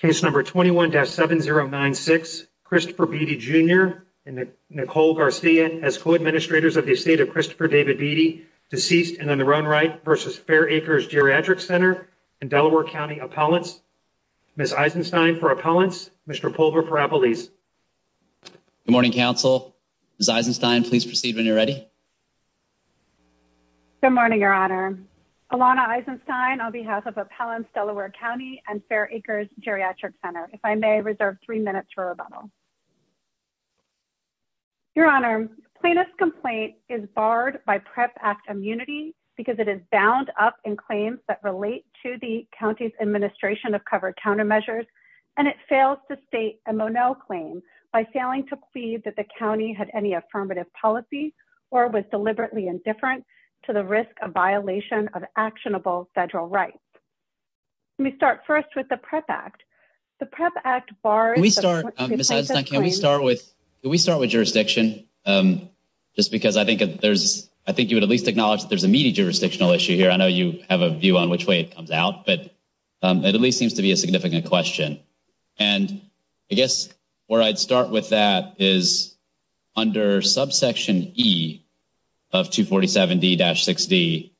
Case No. 21-7096, Christopher Beaty, Jr. and Nicole Garcia as co-administrators of the estate of Christopher David Beaty, deceased and on the run right, v. Fair Acres Geriatric Center and Delaware County Appellants. Ms. Eisenstein for Appellants, Mr. Pulver for Appellees. Good morning, counsel. Ms. Eisenstein, please proceed when you're ready. Good morning, Your Honor. Alana Eisenstein on behalf of Appellants, Delaware County and Fair Acres Geriatric Center. If I may reserve three minutes for rebuttal. Your Honor, plaintiff's complaint is barred by PREP Act immunity because it is bound up in claims that relate to the county's administration of covered countermeasures and it fails to state a Monell claim by failing to plead that the county had any affirmative policy or was deliberately indifferent to the risk of violation of actionable federal rights. Let me start first with the PREP Act. The PREP Act bars- Can we start, Ms. Eisenstein, can we start with jurisdiction? Just because I think you would at least acknowledge that there's a meaty jurisdictional issue here. I know you have a view on which way it comes out, but it at least seems to be a significant question. And I guess where I'd start with that is under subsection E of 247D-6D,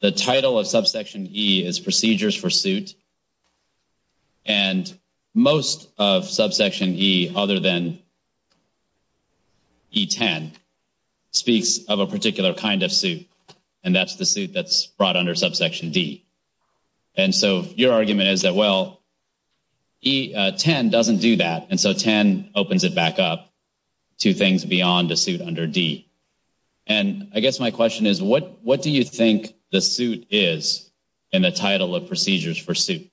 the title of subsection E is procedures for suit. And most of subsection E other than E10 speaks of a particular kind of suit. And that's the suit that's brought under subsection D. And so your argument is that, well, E10 doesn't do that. And so 10 opens it back up to things beyond the suit under D. And I guess my question is, what do you think the suit is in the title of procedures for suit?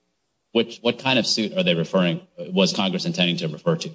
What kind of suit are they referring- was Congress intending to refer to?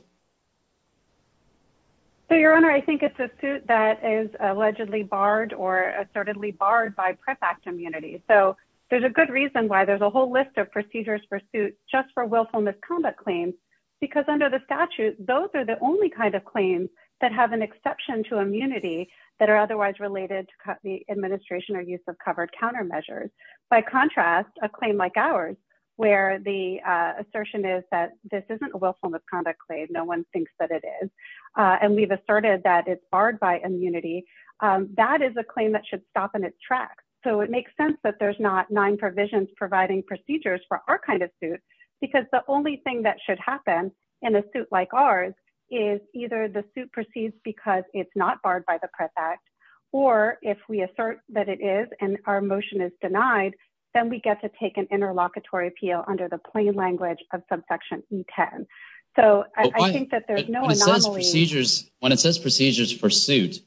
So, Your Honor, I think it's a suit that is allegedly barred or assertedly barred by PREP Act immunity. So there's a good reason why there's a whole list of procedures for suit just for willful misconduct claims. Because under the statute, those are the only kind of claims that have an exception to immunity that are otherwise related to the administration or use of covered countermeasures. By contrast, a claim like ours, where the assertion is that this isn't a willful misconduct claim. No one thinks that it is. And we've asserted that it's barred by immunity. That is a claim that should stop in its tracks. So it makes sense that there's not nine provisions providing procedures for our kind of suit. Because the only thing that should happen in a suit like ours is either the suit proceeds because it's not barred by the PREP Act. Or if we assert that it is and our motion is denied, then we get to take an interlocutory appeal under the plain language of subsection E10. So I think that there's no anomaly- When it says procedures for suit,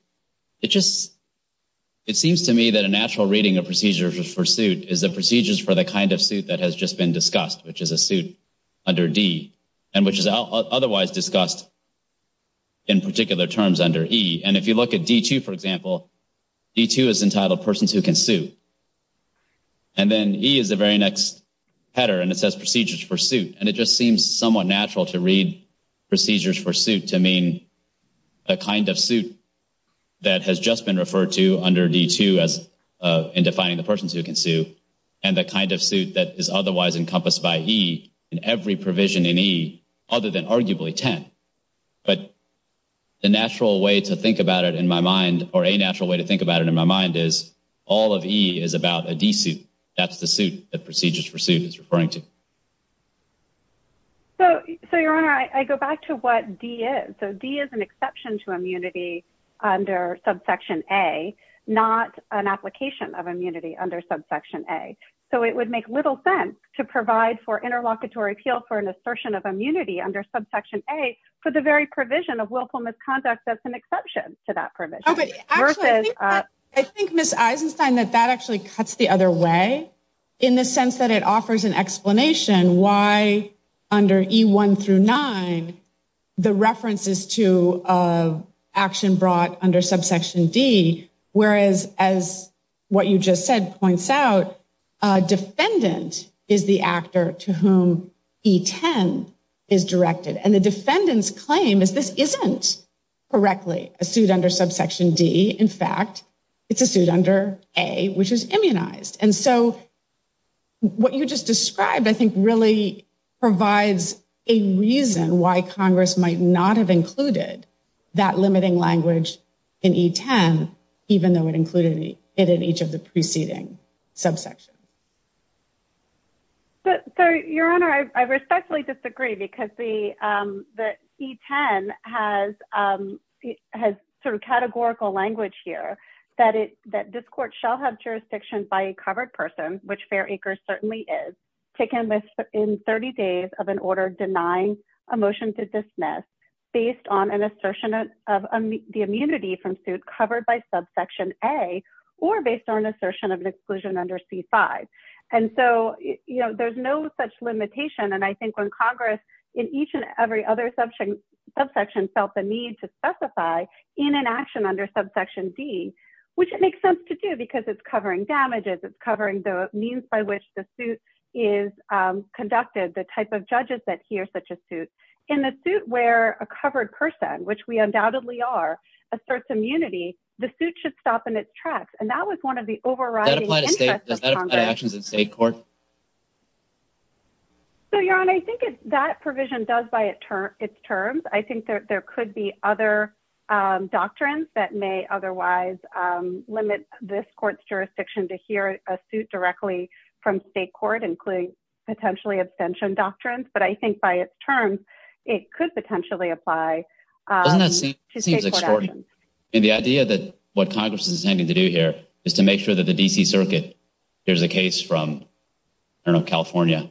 it seems to me that a natural reading of procedures for suit is the procedures for the kind of suit that has just been discussed, which is a suit under D and which is otherwise discussed in particular terms under E. And if you look at D2, for example, D2 is entitled persons who can sue. And then E is the very next header, and it says procedures for suit. And it just seems somewhat natural to read procedures for suit to mean a kind of suit that has just been referred to under D2 as in defining the persons who can sue and the kind of suit that is otherwise encompassed by E in every provision in E other than arguably 10. But the natural way to think about it in my mind or a natural way to think about it in my mind is all of E is about a D suit. That's the suit that procedures for suit is referring to. So, Your Honor, I go back to what D is. So D is an exception to immunity under subsection A, not an application of immunity under subsection A. So it would make little sense to provide for interlocutory appeal for an assertion of immunity under subsection A for the very provision of willful misconduct that's an exception to that provision. Oh, but actually, I think, Ms. Eisenstein, that that actually cuts the other way in the under E1 through 9, the references to action brought under subsection D, whereas as what you just said points out, defendant is the actor to whom E10 is directed. And the defendant's claim is this isn't correctly a suit under subsection D. In fact, it's a suit under A, which is immunized. And so what you just described, I think, really provides a reason why Congress might not have included that limiting language in E10, even though it included it in each of the preceding subsections. So, Your Honor, I respectfully disagree because the E10 has sort of categorical language here that this court shall have jurisdiction by a covered person, which Fair Acres certainly is, taken in 30 days of an order denying a motion to dismiss based on an assertion of the immunity from suit covered by subsection A or based on an assertion of an exclusion under C5. And so there's no such limitation. And I think when Congress in each and every other subsection felt the need to specify in an action under subsection D, which it makes sense to do because it's covering damages, it's covering the means by which the suit is conducted, the type of judges that hear such a suit. In the suit where a covered person, which we undoubtedly are, asserts immunity, the suit should stop in its tracks. And that was one of the overriding interests of Congress. Does that apply to actions in state court? So, Your Honor, I think that provision does by its terms. I think that there could be other doctrines that may otherwise limit this court's jurisdiction to hear a suit directly from state court, including potentially abstention doctrines. But I think by its terms, it could potentially apply to state court actions. Doesn't that seem extraordinary? And the idea that what Congress is intending to do here is to make sure that the D.C. Circuit hears a case from, I don't know, California,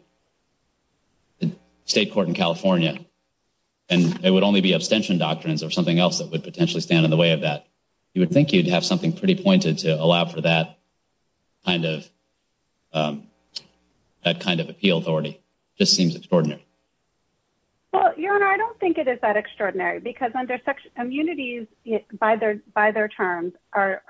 the state court in California, and it would only be abstention doctrines or something else that would potentially stand in the way of that. You would think you'd have something pretty pointed to allow for that kind of appeal authority. Just seems extraordinary. Well, Your Honor, I don't think it is that extraordinary because immunities by their terms are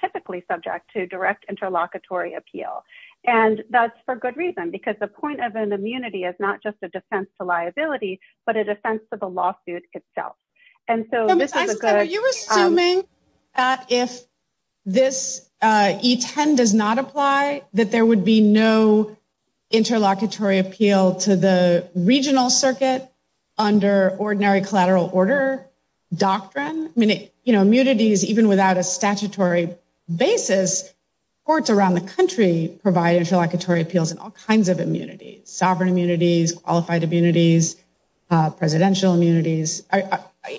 typically subject to direct interlocutory appeal. And that's for good reason, because the point of an immunity is not just a defense to liability, but a defense to the lawsuit itself. And so are you assuming that if this E10 does not apply, that there would be no interlocutory appeal to the regional circuit under ordinary collateral order doctrine? I mean, you know, immunities, even without a statutory basis, courts around the country provide interlocutory appeals and all kinds of immunities, sovereign immunities, qualified immunities, presidential immunities.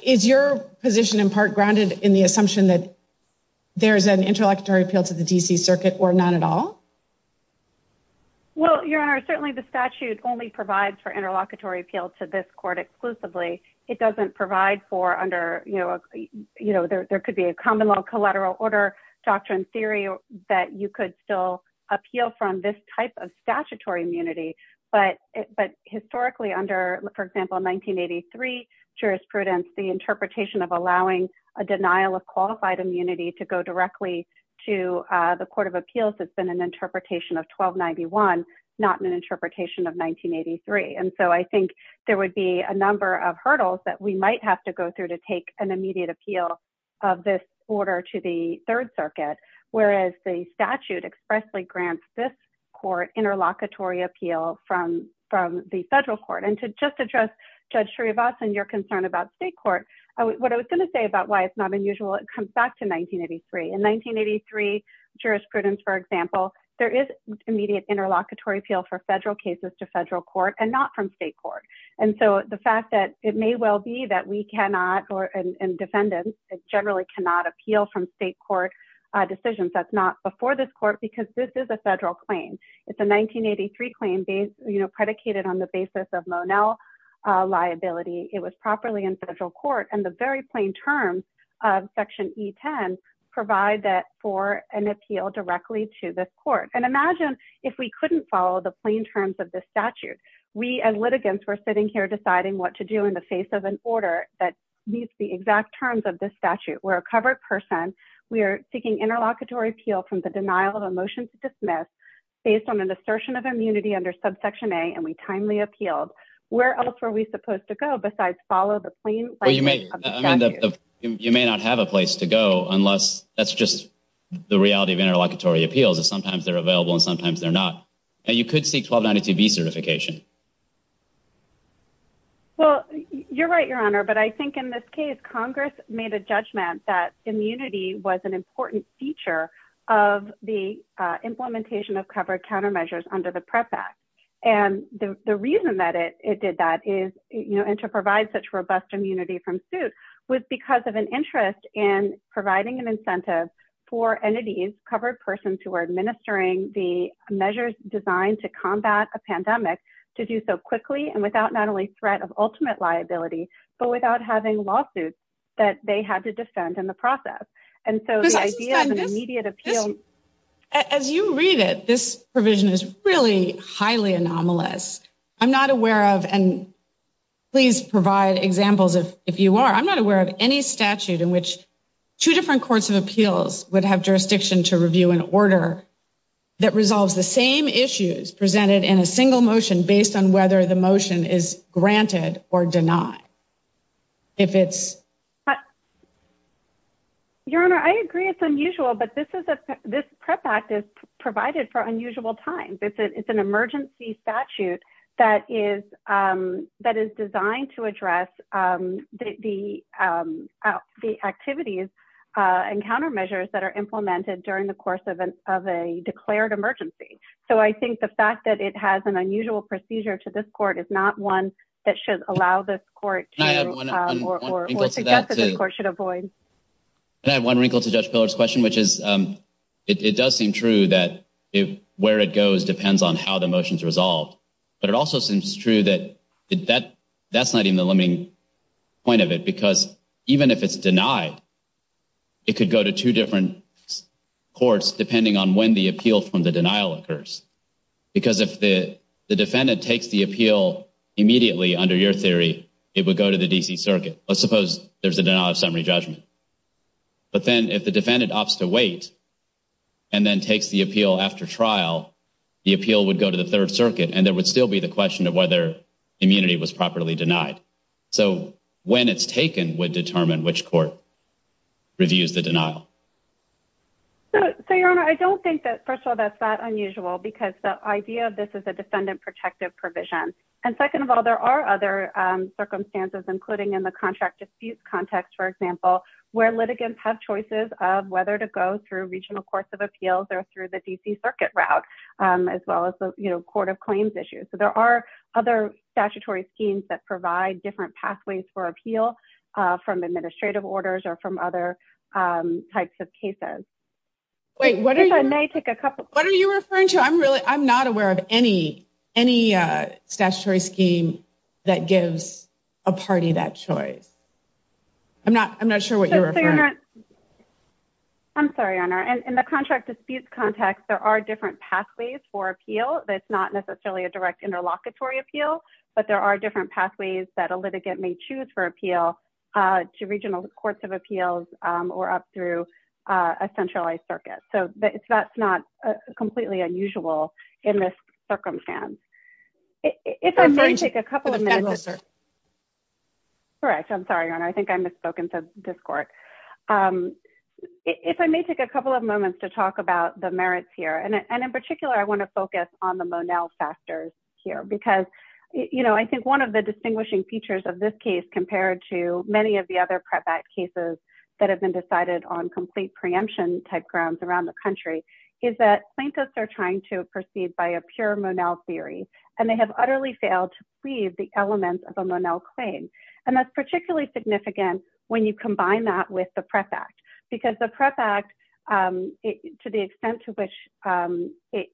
Is your position in part grounded in the assumption that there's an interlocutory appeal to the D.C. Circuit or not at all? Well, Your Honor, certainly the statute only provides for interlocutory appeal to this court exclusively. It doesn't provide for under, you know, there could be a common law collateral order doctrine theory that you could still appeal from this type of statutory immunity. But historically under, for example, 1983 jurisprudence, the interpretation of allowing a denial of qualified immunity to go directly to the Court of Appeals has been an interpretation of 1291, not an interpretation of 1983. And so I think there would be a number of hurdles that we might have to go through to take an immediate appeal of this order to the Third Circuit, whereas the statute expressly grants this court interlocutory appeal from the federal court. And to just address Judge Srivastava and your concern about state court, what I was going to say about why it's not unusual, it comes back to 1983. In 1983 jurisprudence, for example, there is immediate interlocutory appeal for federal cases to federal court and not from state court. And so the fact that it may well be that we cannot, and defendants generally cannot appeal from state court decisions that's not before this court because this is a federal claim. It's a 1983 claim based, you know, predicated on the basis of Monell liability. It was properly in federal court and the very plain terms of Section E10 provide that for an appeal directly to this court. And imagine if we couldn't follow the plain terms of this statute, we as litigants were sitting here deciding what to do in the face of an order that meets the exact terms of this statute. We're a covered person. We are seeking interlocutory appeal from the denial of a motion to dismiss based on an assertion of immunity under subsection A, and we timely appealed. Where else were we supposed to go besides follow the plain language of the statute? Well, you may not have a place to go unless that's just the reality of interlocutory appeals is sometimes they're available and sometimes they're not. And you could seek 1292B certification. Well, you're right, Your Honor, but I think in this case, Congress made a judgment that immunity was an important feature of the implementation of covered countermeasures under the Prep Act. And the reason that it did that is, you know, and to provide such robust immunity from suit was because of an interest in providing an incentive for entities, covered persons who are administering the measures designed to combat a pandemic to do so quickly and without not only threat of ultimate liability, but without having lawsuits that they had to defend in the process. And so the idea of an immediate appeal, as you read it, this provision is really highly anomalous. I'm not aware of, and please provide examples if you are, I'm not aware of any statute in two different courts of appeals would have jurisdiction to review an order that resolves the same issues presented in a single motion based on whether the motion is granted or denied. If it's. Your Honor, I agree it's unusual, but this is this Prep Act is provided for unusual times. It's an emergency statute that is that is designed to address the activities and countermeasures that are implemented during the course of an of a declared emergency. So I think the fact that it has an unusual procedure to this court is not one that should allow this court to or should avoid. And I have one wrinkle to Judge Pillar's question, which is it does seem true that where it goes depends on how the motions resolved. But it also seems true that that that's not even the limiting point of it, because even if it's denied. It could go to two different courts, depending on when the appeal from the denial occurs. Because if the defendant takes the appeal immediately under your theory, it would go to the DC Circuit. Let's suppose there's a denial of summary judgment. But then if the defendant opts to wait. And then takes the appeal after trial, the appeal would go to the 3rd Circuit and there would still be the question of whether immunity was properly denied. So when it's taken would determine which court. Reviews the denial. So, Your Honor, I don't think that first of all, that's not unusual because the idea of this is a defendant protective provision. And second of all, there are other circumstances, including in the contract disputes context, for example, where litigants have choices of whether to go through regional course of appeals or through the DC Circuit route as well as the Court of Claims issue. So there are other statutory schemes that provide different pathways for appeal from administrative orders or from other types of cases. Wait, what if I may take a couple? What are you referring to? I'm really I'm not aware of any any statutory scheme that gives a party that choice. I'm not. I'm not sure what you're. I'm sorry, Honor, and the contract disputes context. There are different pathways for appeal. That's not necessarily a direct interlocutory appeal, but there are different pathways that a litigant may choose for appeal to regional courts of appeals or up through a centralized circuit. So that's not completely unusual in this circumstance. If I'm going to take a couple of minutes. Sir. Correct. I'm sorry, Honor. I think I misspoken to this court. If I may take a couple of moments to talk about the merits here, and in particular, I want to focus on the Monell factors here because, you know, I think one of the distinguishing features of this case compared to many of the other cases that have been decided on complete preemption type grounds around the country is that plaintiffs are trying to proceed by a pure Monell theory, and they have utterly failed to leave the elements of a Monell claim. And that's particularly significant when you combine that with the prep act, because the prep act, to the extent to which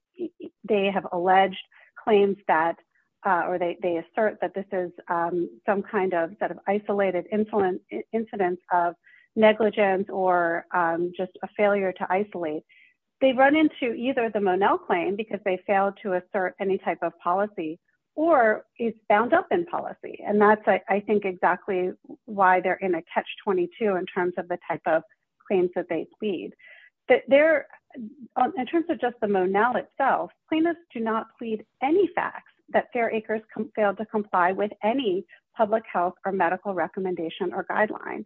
they have alleged claims that or they assert that this is some kind of sort of isolated influence incidents of negligence or just a failure to isolate, they run into either the Monell claim because they failed to assert any type of policy or is bound up in policy. And that's, I think, exactly why they're in a catch 22 in terms of the type of claims that they plead that there in terms of just the Monell itself, plaintiffs do not plead any facts that fair acres failed to comply with any public health or medical recommendation or guideline.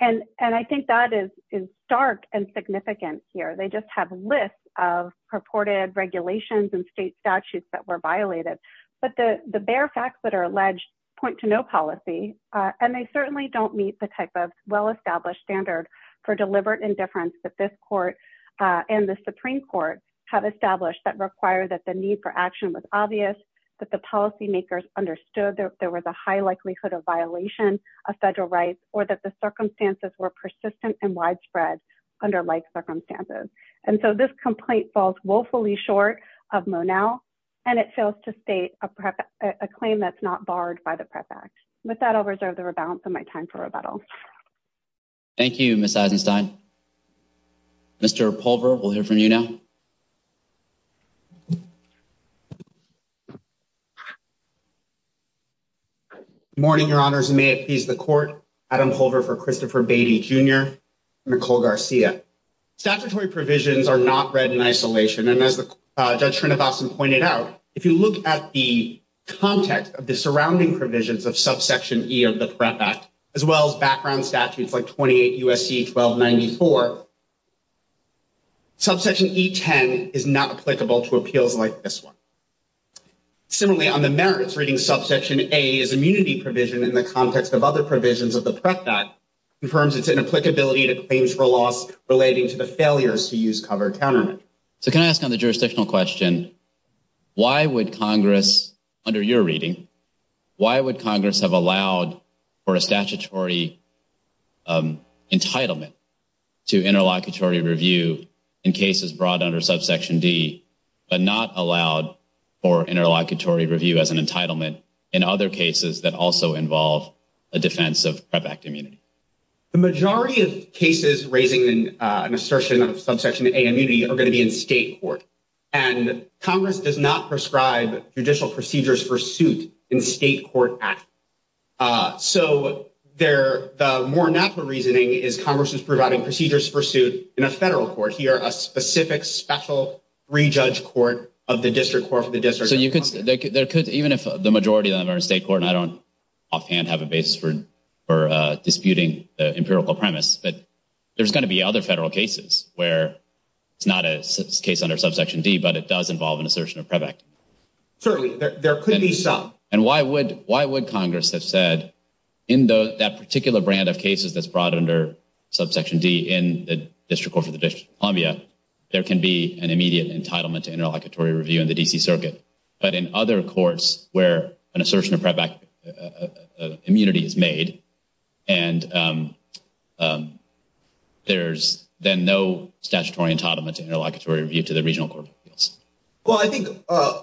And I think that is stark and significant here. They just have lists of purported regulations and state statutes that were violated. But the bare facts that are alleged point to no policy, and they certainly don't meet the type of well-established standard for deliberate indifference that this court and the Supreme Court have established that require that the need for action was obvious, that the policymakers understood that there was a high likelihood of violation of federal rights or that the circumstances were persistent and widespread under life circumstances. And so this complaint falls woefully short of Monell, and it fails to state a claim that's not barred by the Prefect. With that, I'll reserve the rebalance of my time for rebuttal. Thank you, Miss Eisenstein. Mr. Pulver, we'll hear from you now. Good morning, Your Honors, and may it please the Court. Adam Pulver for Christopher Beatty, Jr. and Nicole Garcia. Statutory provisions are not read in isolation, and as Judge Srinivasan pointed out, if you look at the context of the surrounding provisions of Subsection E of the PREP Act, as well as like this one. Similarly, on the merits, reading Subsection A as immunity provision in the context of other provisions of the PREP Act confirms its inapplicability to claims for loss relating to the failures to use covered countermeasures. So can I ask on the jurisdictional question, why would Congress, under your reading, why would Congress have allowed for a statutory entitlement to interlocutory review in cases brought under Subsection D, but not allowed for interlocutory review as an entitlement in other cases that also involve a defense of PREP Act immunity? The majority of cases raising an assertion of Subsection A immunity are going to be in state court, and Congress does not prescribe judicial procedures for suit in state court action. So the more natural reasoning is Congress is providing procedures for suit in a federal court here, a specific special re-judge court of the district court for the district. So you could, there could, even if the majority of them are in state court, and I don't offhand have a basis for disputing the empirical premise, but there's going to be other federal cases where it's not a case under Subsection D, but it does involve an assertion of PREP Act. Certainly, there could be some. And why would Congress have said in that particular brand of cases that's brought under Subsection D in the district court for the District of Columbia, there can be an immediate entitlement to interlocutory review in the D.C. Circuit, but in other courts where an assertion of PREP Act immunity is made, and there's then no statutory entitlement to interlocutory review to the regional court of appeals? Well, I think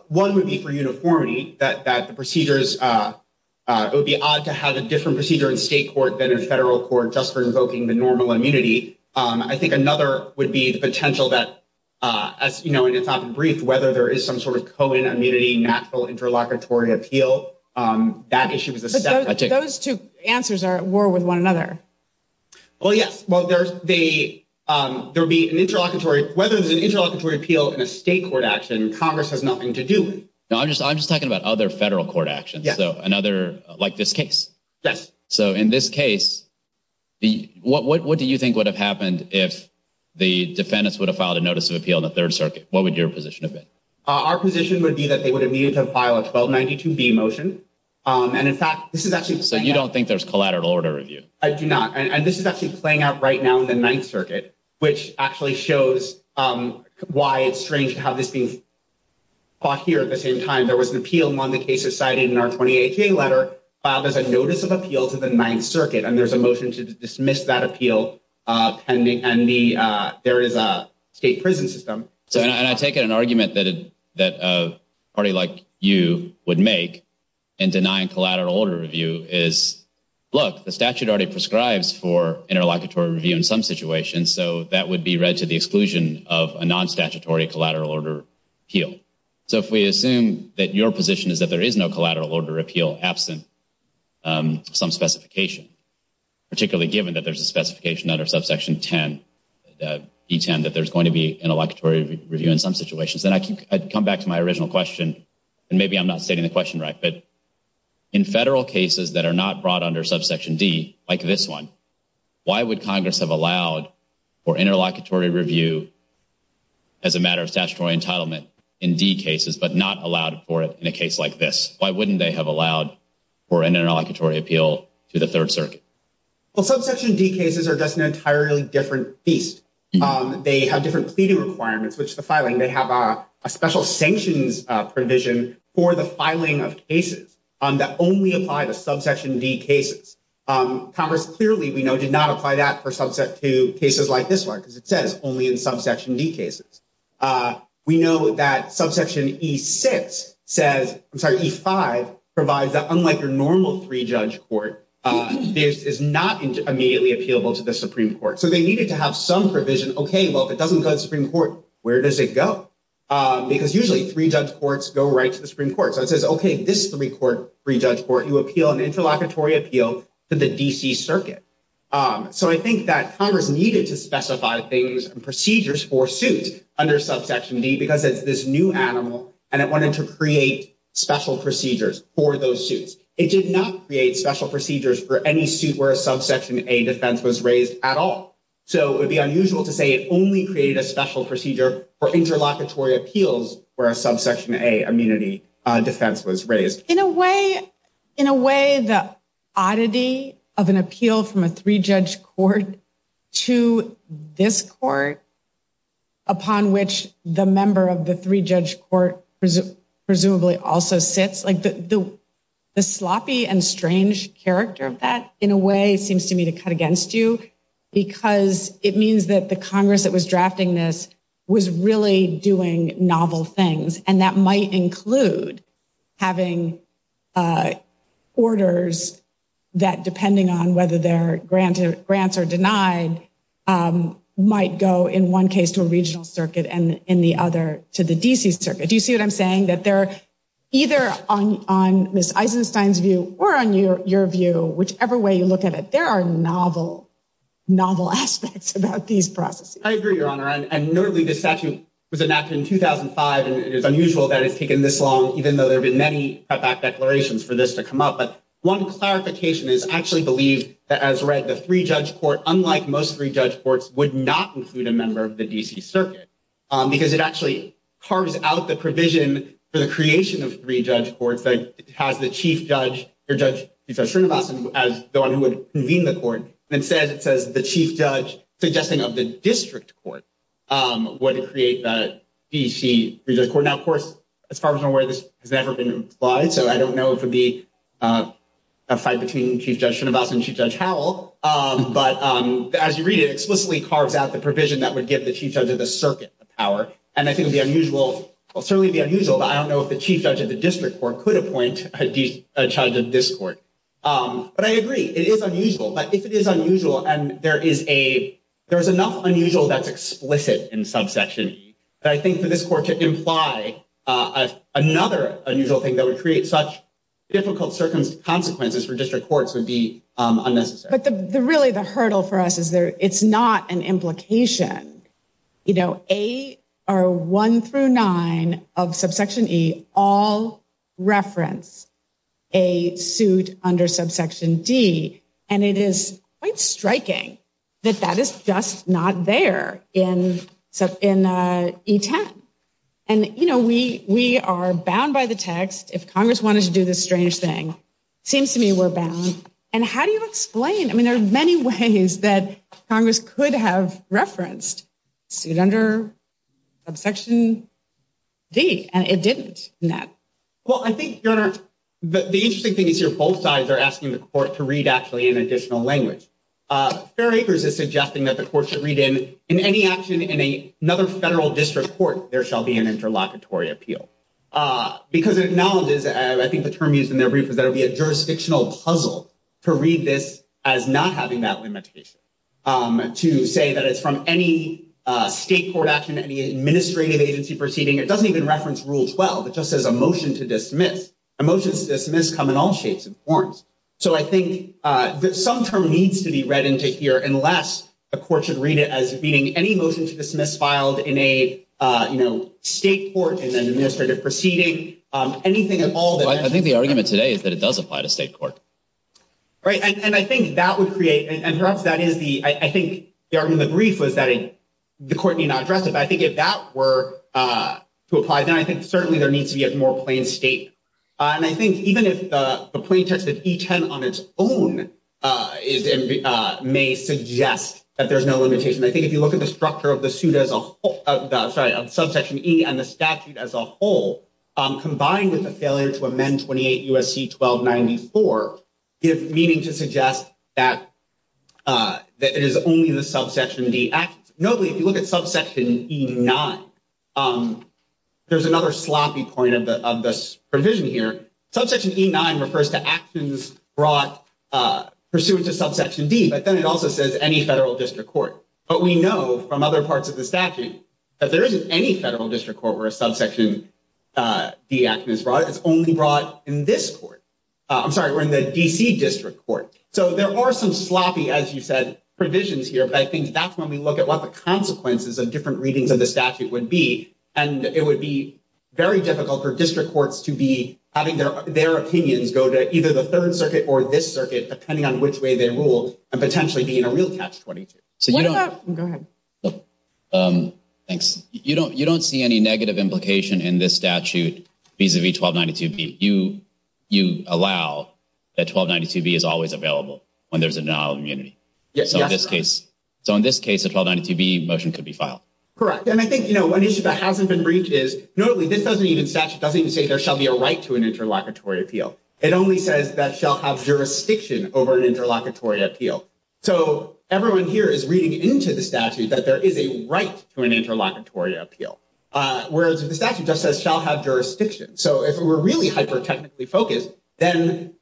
one would be for uniformity, that the procedures, it would be odd to have a different procedure in state court than in federal court just for invoking the normal immunity. I think another would be the potential that, as you know, and it's often briefed, whether there is some sort of COIN immunity, natural interlocutory appeal. That issue is a separate. Those two answers are at war with one another. Well, yes. Well, there's the, there'll be an interlocutory, whether there's an interlocutory appeal in a state court action, Congress has nothing to do with. No, I'm just, I'm just talking about other federal court actions. So another, like this case. So in this case, what do you think would have happened if the defendants would have filed a notice of appeal in the Third Circuit? What would your position have been? Our position would be that they would have needed to file a 1292B motion. And in fact, this is actually. So you don't think there's collateral order review? I do not. And this is actually playing out right now in the Ninth Circuit, which actually shows why it's strange to have this being fought here at the same time. There was an appeal among the cases cited in our 28J letter filed as a notice of appeal to the Ninth Circuit. And there's a motion to dismiss that appeal pending. And the, there is a state prison system. So, and I take it an argument that a party like you would make in denying collateral order review is, look, the statute already prescribes for interlocutory review in some situations. So that would be read to the exclusion of a non-statutory collateral order appeal. So if we assume that your position is that there is no collateral order appeal absent some specification, particularly given that there's a specification under subsection 10, E10, that there's going to be interlocutory review in some situations. Then I come back to my original question, and maybe I'm not stating the question right. But in federal cases that are not brought under subsection D, like this one, why would Congress have allowed for interlocutory review as a matter of statutory entitlement in D cases, but not allowed for it in a case like this? Why wouldn't they have allowed for an interlocutory appeal to the Third Circuit? Well, subsection D cases are just an entirely different beast. They have different pleading requirements, which the filing, they have a special sanctions provision for the filing of cases that only apply to subsection D cases. Congress clearly, we know, did not apply that for subsection D cases like this one, because it says only in subsection D cases. We know that subsection E6 says, I'm sorry, E5 provides that unlike your normal three-judge court, this is not immediately appealable to the Supreme Court. So they needed to have some provision, okay, well, if it doesn't go to the Supreme Court, where does it go? Because usually three-judge courts go right to the Supreme Court. So it says, okay, this three-judge court, you appeal an interlocutory appeal to the D.C. Circuit. So I think that Congress needed to specify things and procedures for suits under subsection D because it's this new animal and it wanted to create special procedures for those suits. It did not create special procedures for any suit where a subsection A defense was raised at all. So it would be unusual to say it only created a special procedure for interlocutory appeals where a subsection A immunity defense was raised. In a way, the oddity of an appeal from a three-judge court to this court upon which the member of the three-judge court presumably also sits, the sloppy and strange character of that in a way seems to me to cut against you because it means that the Congress that was drafting this was really doing novel things. And that might include having orders that, depending on whether their grants are denied, might go in one case to a regional circuit and in the other to the D.C. Circuit. Do you see what I'm saying? That they're either on Ms. Eisenstein's view or on your view, whichever way you look at it, there are novel, novel aspects about these processes. I agree, Your Honor. And notably, this statute was enacted in 2005. And it is unusual that it's taken this long, even though there have been many cutback declarations for this to come up. But one clarification is I actually believe that, as read, the three-judge court, unlike most three-judge courts, would not include a member of the D.C. Circuit because it actually carves out the provision for the creation of three-judge courts that has the chief judge or Judge Shrinivasan as the one who would convene the court. Instead, it says the chief judge suggesting of the district court would create the D.C. three-judge court. Now, of course, as far as I'm aware, this has never been implied. So I don't know if it would be a fight between Chief Judge Shrinivasan and Chief Judge Howell. But as you read it, it explicitly carves out the provision that would give the chief judge of the circuit the power. And I think it would be unusual, well, certainly be unusual, but I don't know if the chief judge of the district court could appoint a judge of this court. But I agree. It is unusual. But if it is unusual and there is enough unusual that's explicit in subsection E that I think for this court to imply another unusual thing that would create such difficult circumstances for district courts would be unnecessary. But really, the hurdle for us is it's not an implication. You know, A or 1 through 9 of subsection E all reference a suit under subsection D. And it is quite striking that that is just not there in E10. And, you know, we are bound by the text. If Congress wanted to do this strange thing, it seems to me we're bound. And how do you explain? I mean, there are many ways that Congress could have referenced suit under subsection D, and it didn't in that. Well, I think, Your Honor, the interesting thing is here both sides are asking the court to read actually in additional language. Fair Acres is suggesting that the court should read in any action in another federal district court, there shall be an interlocutory appeal. Because it acknowledges, I think the term used in their brief is that it would be a jurisdictional puzzle to read this as not having that limitation. To say that it's from any state court action, any administrative agency proceeding, it doesn't even reference Rule 12. It just says a motion to dismiss. A motion to dismiss come in all shapes and forms. So I think that some term needs to be read into here unless a court should read it as being any motion to dismiss filed in a, you know, state court and then administrative proceeding, anything at all. I think the argument today is that it does apply to state court. Right. And I think that would create and perhaps that is the I think the argument in the brief was that the court need not address it. I think if that were to apply, then I think certainly there needs to be a more plain state. And I think even if the plain text of E10 on its own may suggest that there's no limitation, I think if you look at the structure of the suit as a whole, sorry, of subsection E and the statute as a whole, combined with the failure to amend 28 U.S.C. 1294 give meaning to suggest that it is only the subsection D. Notably, if you look at subsection E9, there's another sloppy point of this provision here. Subsection E9 refers to actions brought pursuant to subsection D. But then it also says any federal district court. But we know from other parts of the statute that there isn't any federal district court where a subsection D action is brought. It's only brought in this court. I'm sorry, we're in the D.C. district court. So there are some sloppy, as you said, provisions here. I think that's when we look at what the consequences of different readings of the statute would be. And it would be very difficult for district courts to be having their opinions go to either the Third Circuit or this circuit, depending on which way they rule, and potentially be in a real catch-22. So you don't— Go ahead. Thanks. You don't see any negative implication in this statute vis-a-vis 1292B. You allow that 1292B is always available when there's a denial of immunity. So in this case, so in this case, a 1292B motion could be filed. Correct. And I think, you know, one issue that hasn't been breached is, notably, this doesn't even—statute doesn't even say there shall be a right to an interlocutory appeal. It only says that shall have jurisdiction over an interlocutory appeal. So everyone here is reading into the statute that there is a right to an interlocutory appeal, whereas if the statute just says shall have jurisdiction. So if we're really hyper-technically focused, then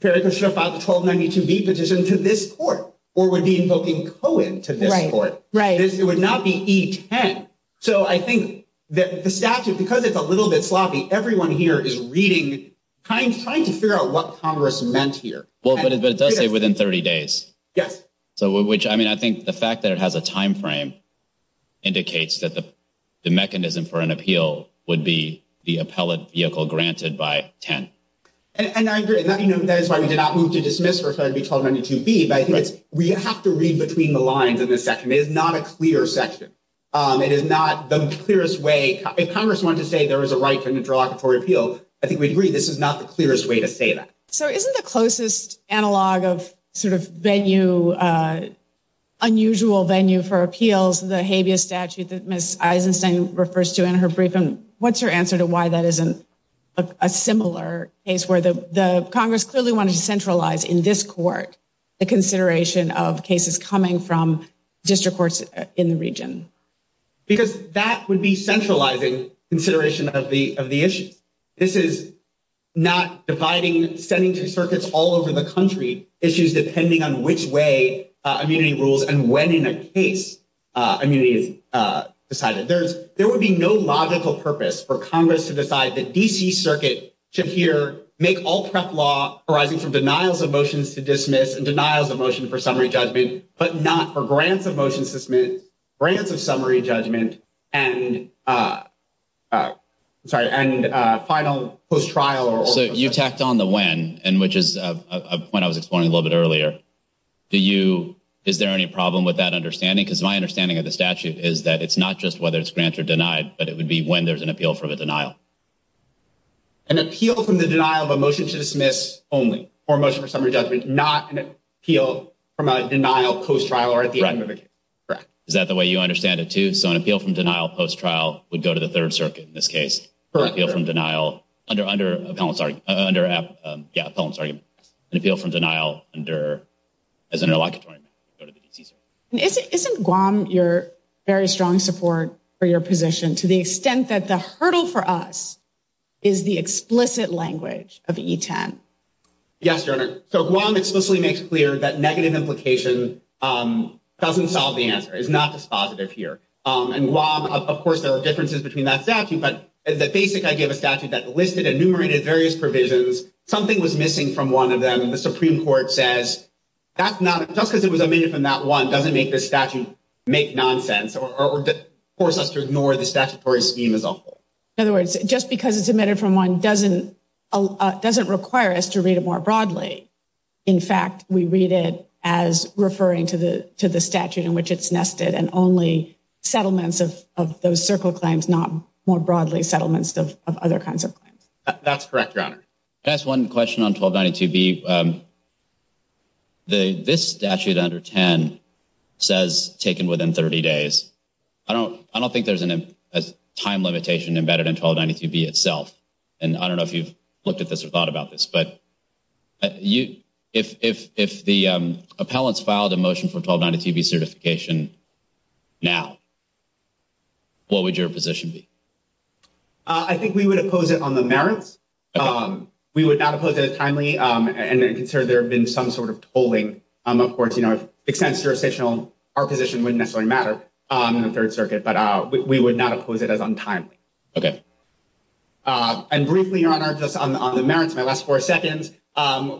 FERECA should have filed the 1292B petition to this court, or would be invoking Cohen to this court. Right. It would not be E10. So I think that the statute, because it's a little bit sloppy, everyone here is reading, trying to figure out what Congress meant here. Well, but it does say within 30 days. Yes. So which, I mean, I think the fact that it has a time frame indicates that the mechanism for an appeal would be the appellate vehicle granted by 10. And I agree, and that is why we did not move to dismiss or try to be 1292B, but I think it's—we have to read between the lines in this section. It is not a clear section. It is not the clearest way. If Congress wanted to say there is a right to an interlocutory appeal, I think we'd agree this is not the clearest way to say that. So isn't the closest analog of sort of venue, unusual venue for appeals, the habeas statute that Ms. Eisenstein refers to in her briefing, what's her answer to why that isn't a similar case where the Congress clearly wanted to centralize in this court the consideration of cases coming from district courts in the region? Because that would be centralizing consideration of the issues. This is not dividing, sending to circuits all over the country issues depending on which way immunity rules and when in a case immunity is decided. There would be no logical purpose for Congress to decide that D.C. Circuit should here make all prep law arising from denials of motions to dismiss and denials of motion for summary judgment, but not for grants of motions to dismiss, grants of summary judgment, and final post-trial or— So you tacked on the when, which is a point I was exploring a little bit earlier. Do you—is there any problem with that understanding? Because my understanding of the statute is that it's not just whether it's grant or denied, but it would be when there's an appeal from a denial. An appeal from the denial of a motion to dismiss only, or motion for summary judgment, not an appeal from a denial post-trial or at the end of a case. Correct. Is that the way you understand it too? So an appeal from denial post-trial would go to the Third Circuit in this case. Correct. An appeal from denial under—yeah, Pelham's argument. An appeal from denial under—as an interlocutory—go to the D.C. Isn't Guam your very strong support for your position to the extent that the hurdle for us is the explicit language of E-10? Yes, Your Honor. So Guam explicitly makes clear that negative implication doesn't solve the answer, is not dispositive here. And Guam—of course, there are differences between that statute, but the basic idea of a statute that listed and enumerated various provisions, something was missing from one of them, and the Supreme Court says, that's not—just because it was omitted from that doesn't make this statute make nonsense or force us to ignore the statutory scheme as a whole. In other words, just because it's omitted from one doesn't require us to read it more broadly. In fact, we read it as referring to the statute in which it's nested and only settlements of those circle claims, not more broadly settlements of other kinds of claims. That's correct, Your Honor. Can I ask one question on 1292B? The—this statute under 10 says taken within 30 days. I don't think there's a time limitation embedded in 1292B itself, and I don't know if you've looked at this or thought about this, but if the appellants filed a motion for 1292B certification now, what would your position be? I think we would oppose it on the merits. We would not oppose it as timely, and I consider there have been some sort of tolling. Of course, you know, if it extends jurisdictional, our position wouldn't necessarily matter in the Third Circuit, but we would not oppose it as untimely. Okay. And briefly, Your Honor, just on the merits, my last four seconds,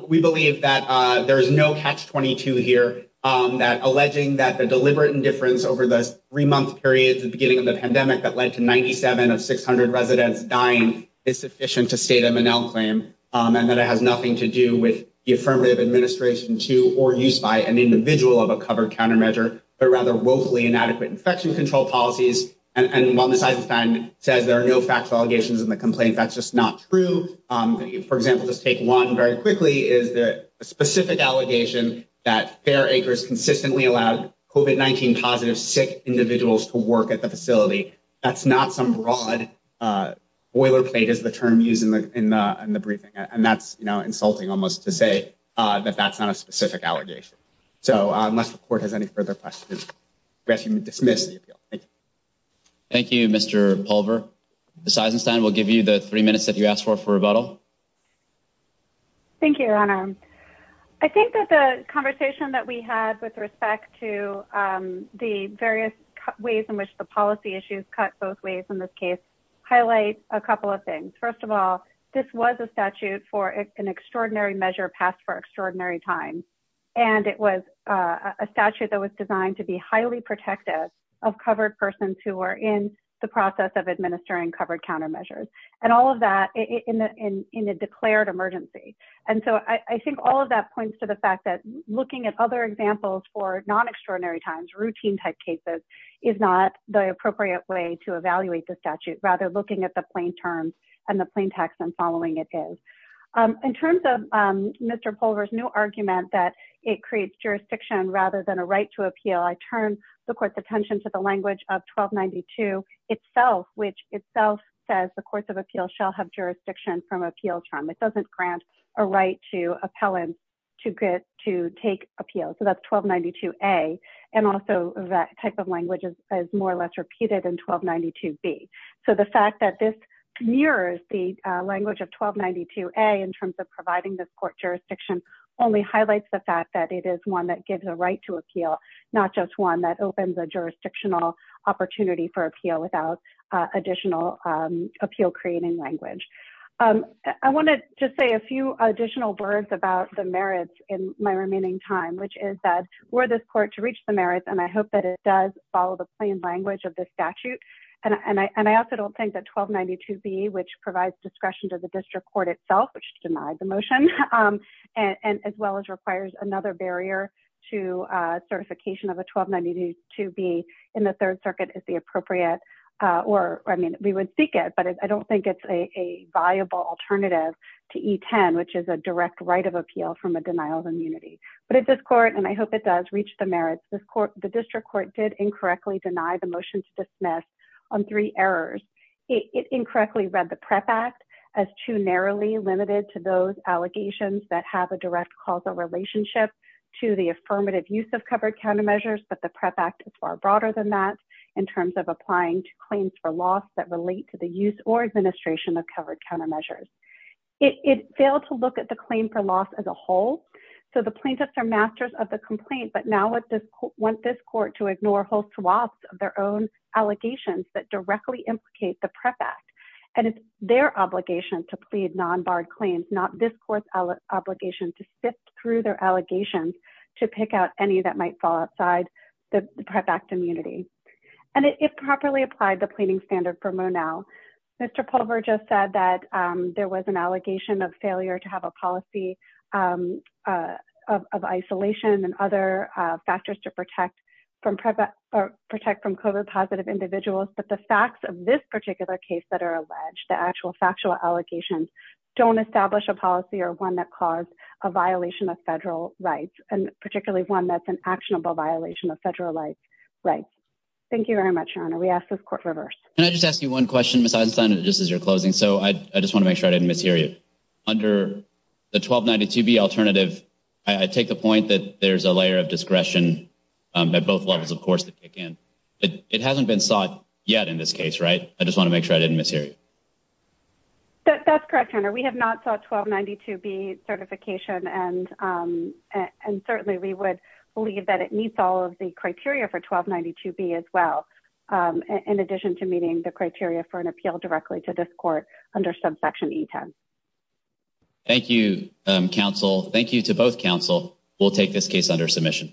we believe that there is no catch-22 here that alleging that the deliberate indifference over the three-month period at the beginning of the pandemic that led to 97 of 600 residents dying is sufficient to state a Monell claim and that it has nothing to do with the affirmative administration to or use by an individual of a covered countermeasure, but rather woefully inadequate infection control policies. And while this item says there are no factual allegations in the complaint, that's just not true. For example, just take one very quickly, is that a specific allegation that Fair Acres consistently allowed COVID-19-positive sick individuals to work at the facility, that's not some broad boilerplate is the term used in the briefing. And that's insulting almost to say that that's not a specific allegation. So unless the court has any further questions, we ask you to dismiss the appeal. Thank you, Mr. Pulver. Ms. Eisenstein, we'll give you the three minutes that you asked for for rebuttal. Thank you, Your Honor. I think that the conversation that we had with respect to the various ways in which the policy issues cut both ways in this case highlight a couple of things. First of all, this was a statute for an extraordinary measure passed for extraordinary time. And it was a statute that was designed to be highly protective of covered persons who were in the process of administering covered countermeasures and all of that in a declared emergency. And so I think all of that points to the fact that looking at other examples for non-extraordinary times, routine type cases, is not the appropriate way to evaluate the statute, rather looking at the plain terms and the plain text and following it is. In terms of Mr. Pulver's new argument that it creates jurisdiction rather than a right to appeal, I turn the court's attention to the language of 1292 itself, which itself says the courts of appeal shall have jurisdiction from appeal term. It doesn't grant a right to take appeal. So that's 1292A and also that type of language is more or less repeated in 1292B. So the fact that this mirrors the language of 1292A in terms of providing this court jurisdiction only highlights the fact that it is one that gives a right to appeal, not just one that opens a jurisdictional opportunity for appeal without additional appeal creating language. I want to just say a few additional words about the merits in my remaining time, which is that we're this court to reach the merits and I hope that it does follow the plain language of the statute. And I also don't think that 1292B, which provides discretion to the district court itself, which denied the motion, and as well as requires another barrier to certification of a 1292B in the third circuit is the appropriate, or I mean, we would seek it, but I don't think it's a viable alternative to E10, which is a direct right of appeal from a denial of immunity. But at this court, and I hope it does reach the merits, the district court did incorrectly deny the motion to dismiss on three errors. It incorrectly read the Prep Act as too narrowly limited to those allegations that have a direct causal relationship to the affirmative use of countermeasures, but the Prep Act is far broader than that in terms of applying to claims for loss that relate to the use or administration of covered countermeasures. It failed to look at the claim for loss as a whole. So the plaintiffs are masters of the complaint, but now want this court to ignore whole swaths of their own allegations that directly implicate the Prep Act. And it's their obligation to plead non-barred claims, not this court's obligation to sift through their allegations to pick out any that might fall outside the Prep Act immunity. And it properly applied the pleading standard for Monell. Mr. Pulver just said that there was an allegation of failure to have a policy of isolation and other factors to protect from COVID positive individuals, but the facts of this particular case that are alleged, the actual factual allegations don't establish a policy or cause a violation of federal rights, and particularly one that's an actionable violation of federal rights. Thank you very much, Your Honor. We ask this court reverse. Can I just ask you one question, Ms. Eisenstein, just as you're closing? So I just want to make sure I didn't mishear you. Under the 1292B alternative, I take the point that there's a layer of discretion at both levels, of course, that kick in. It hasn't been sought yet in this case, right? I just want to make sure I didn't mishear you. That's correct, Your Honor. We have not sought 1292B certification, and certainly we would believe that it meets all of the criteria for 1292B as well, in addition to meeting the criteria for an appeal directly to this court under subsection E10. Thank you, counsel. Thank you to both counsel. We'll take this case under submission.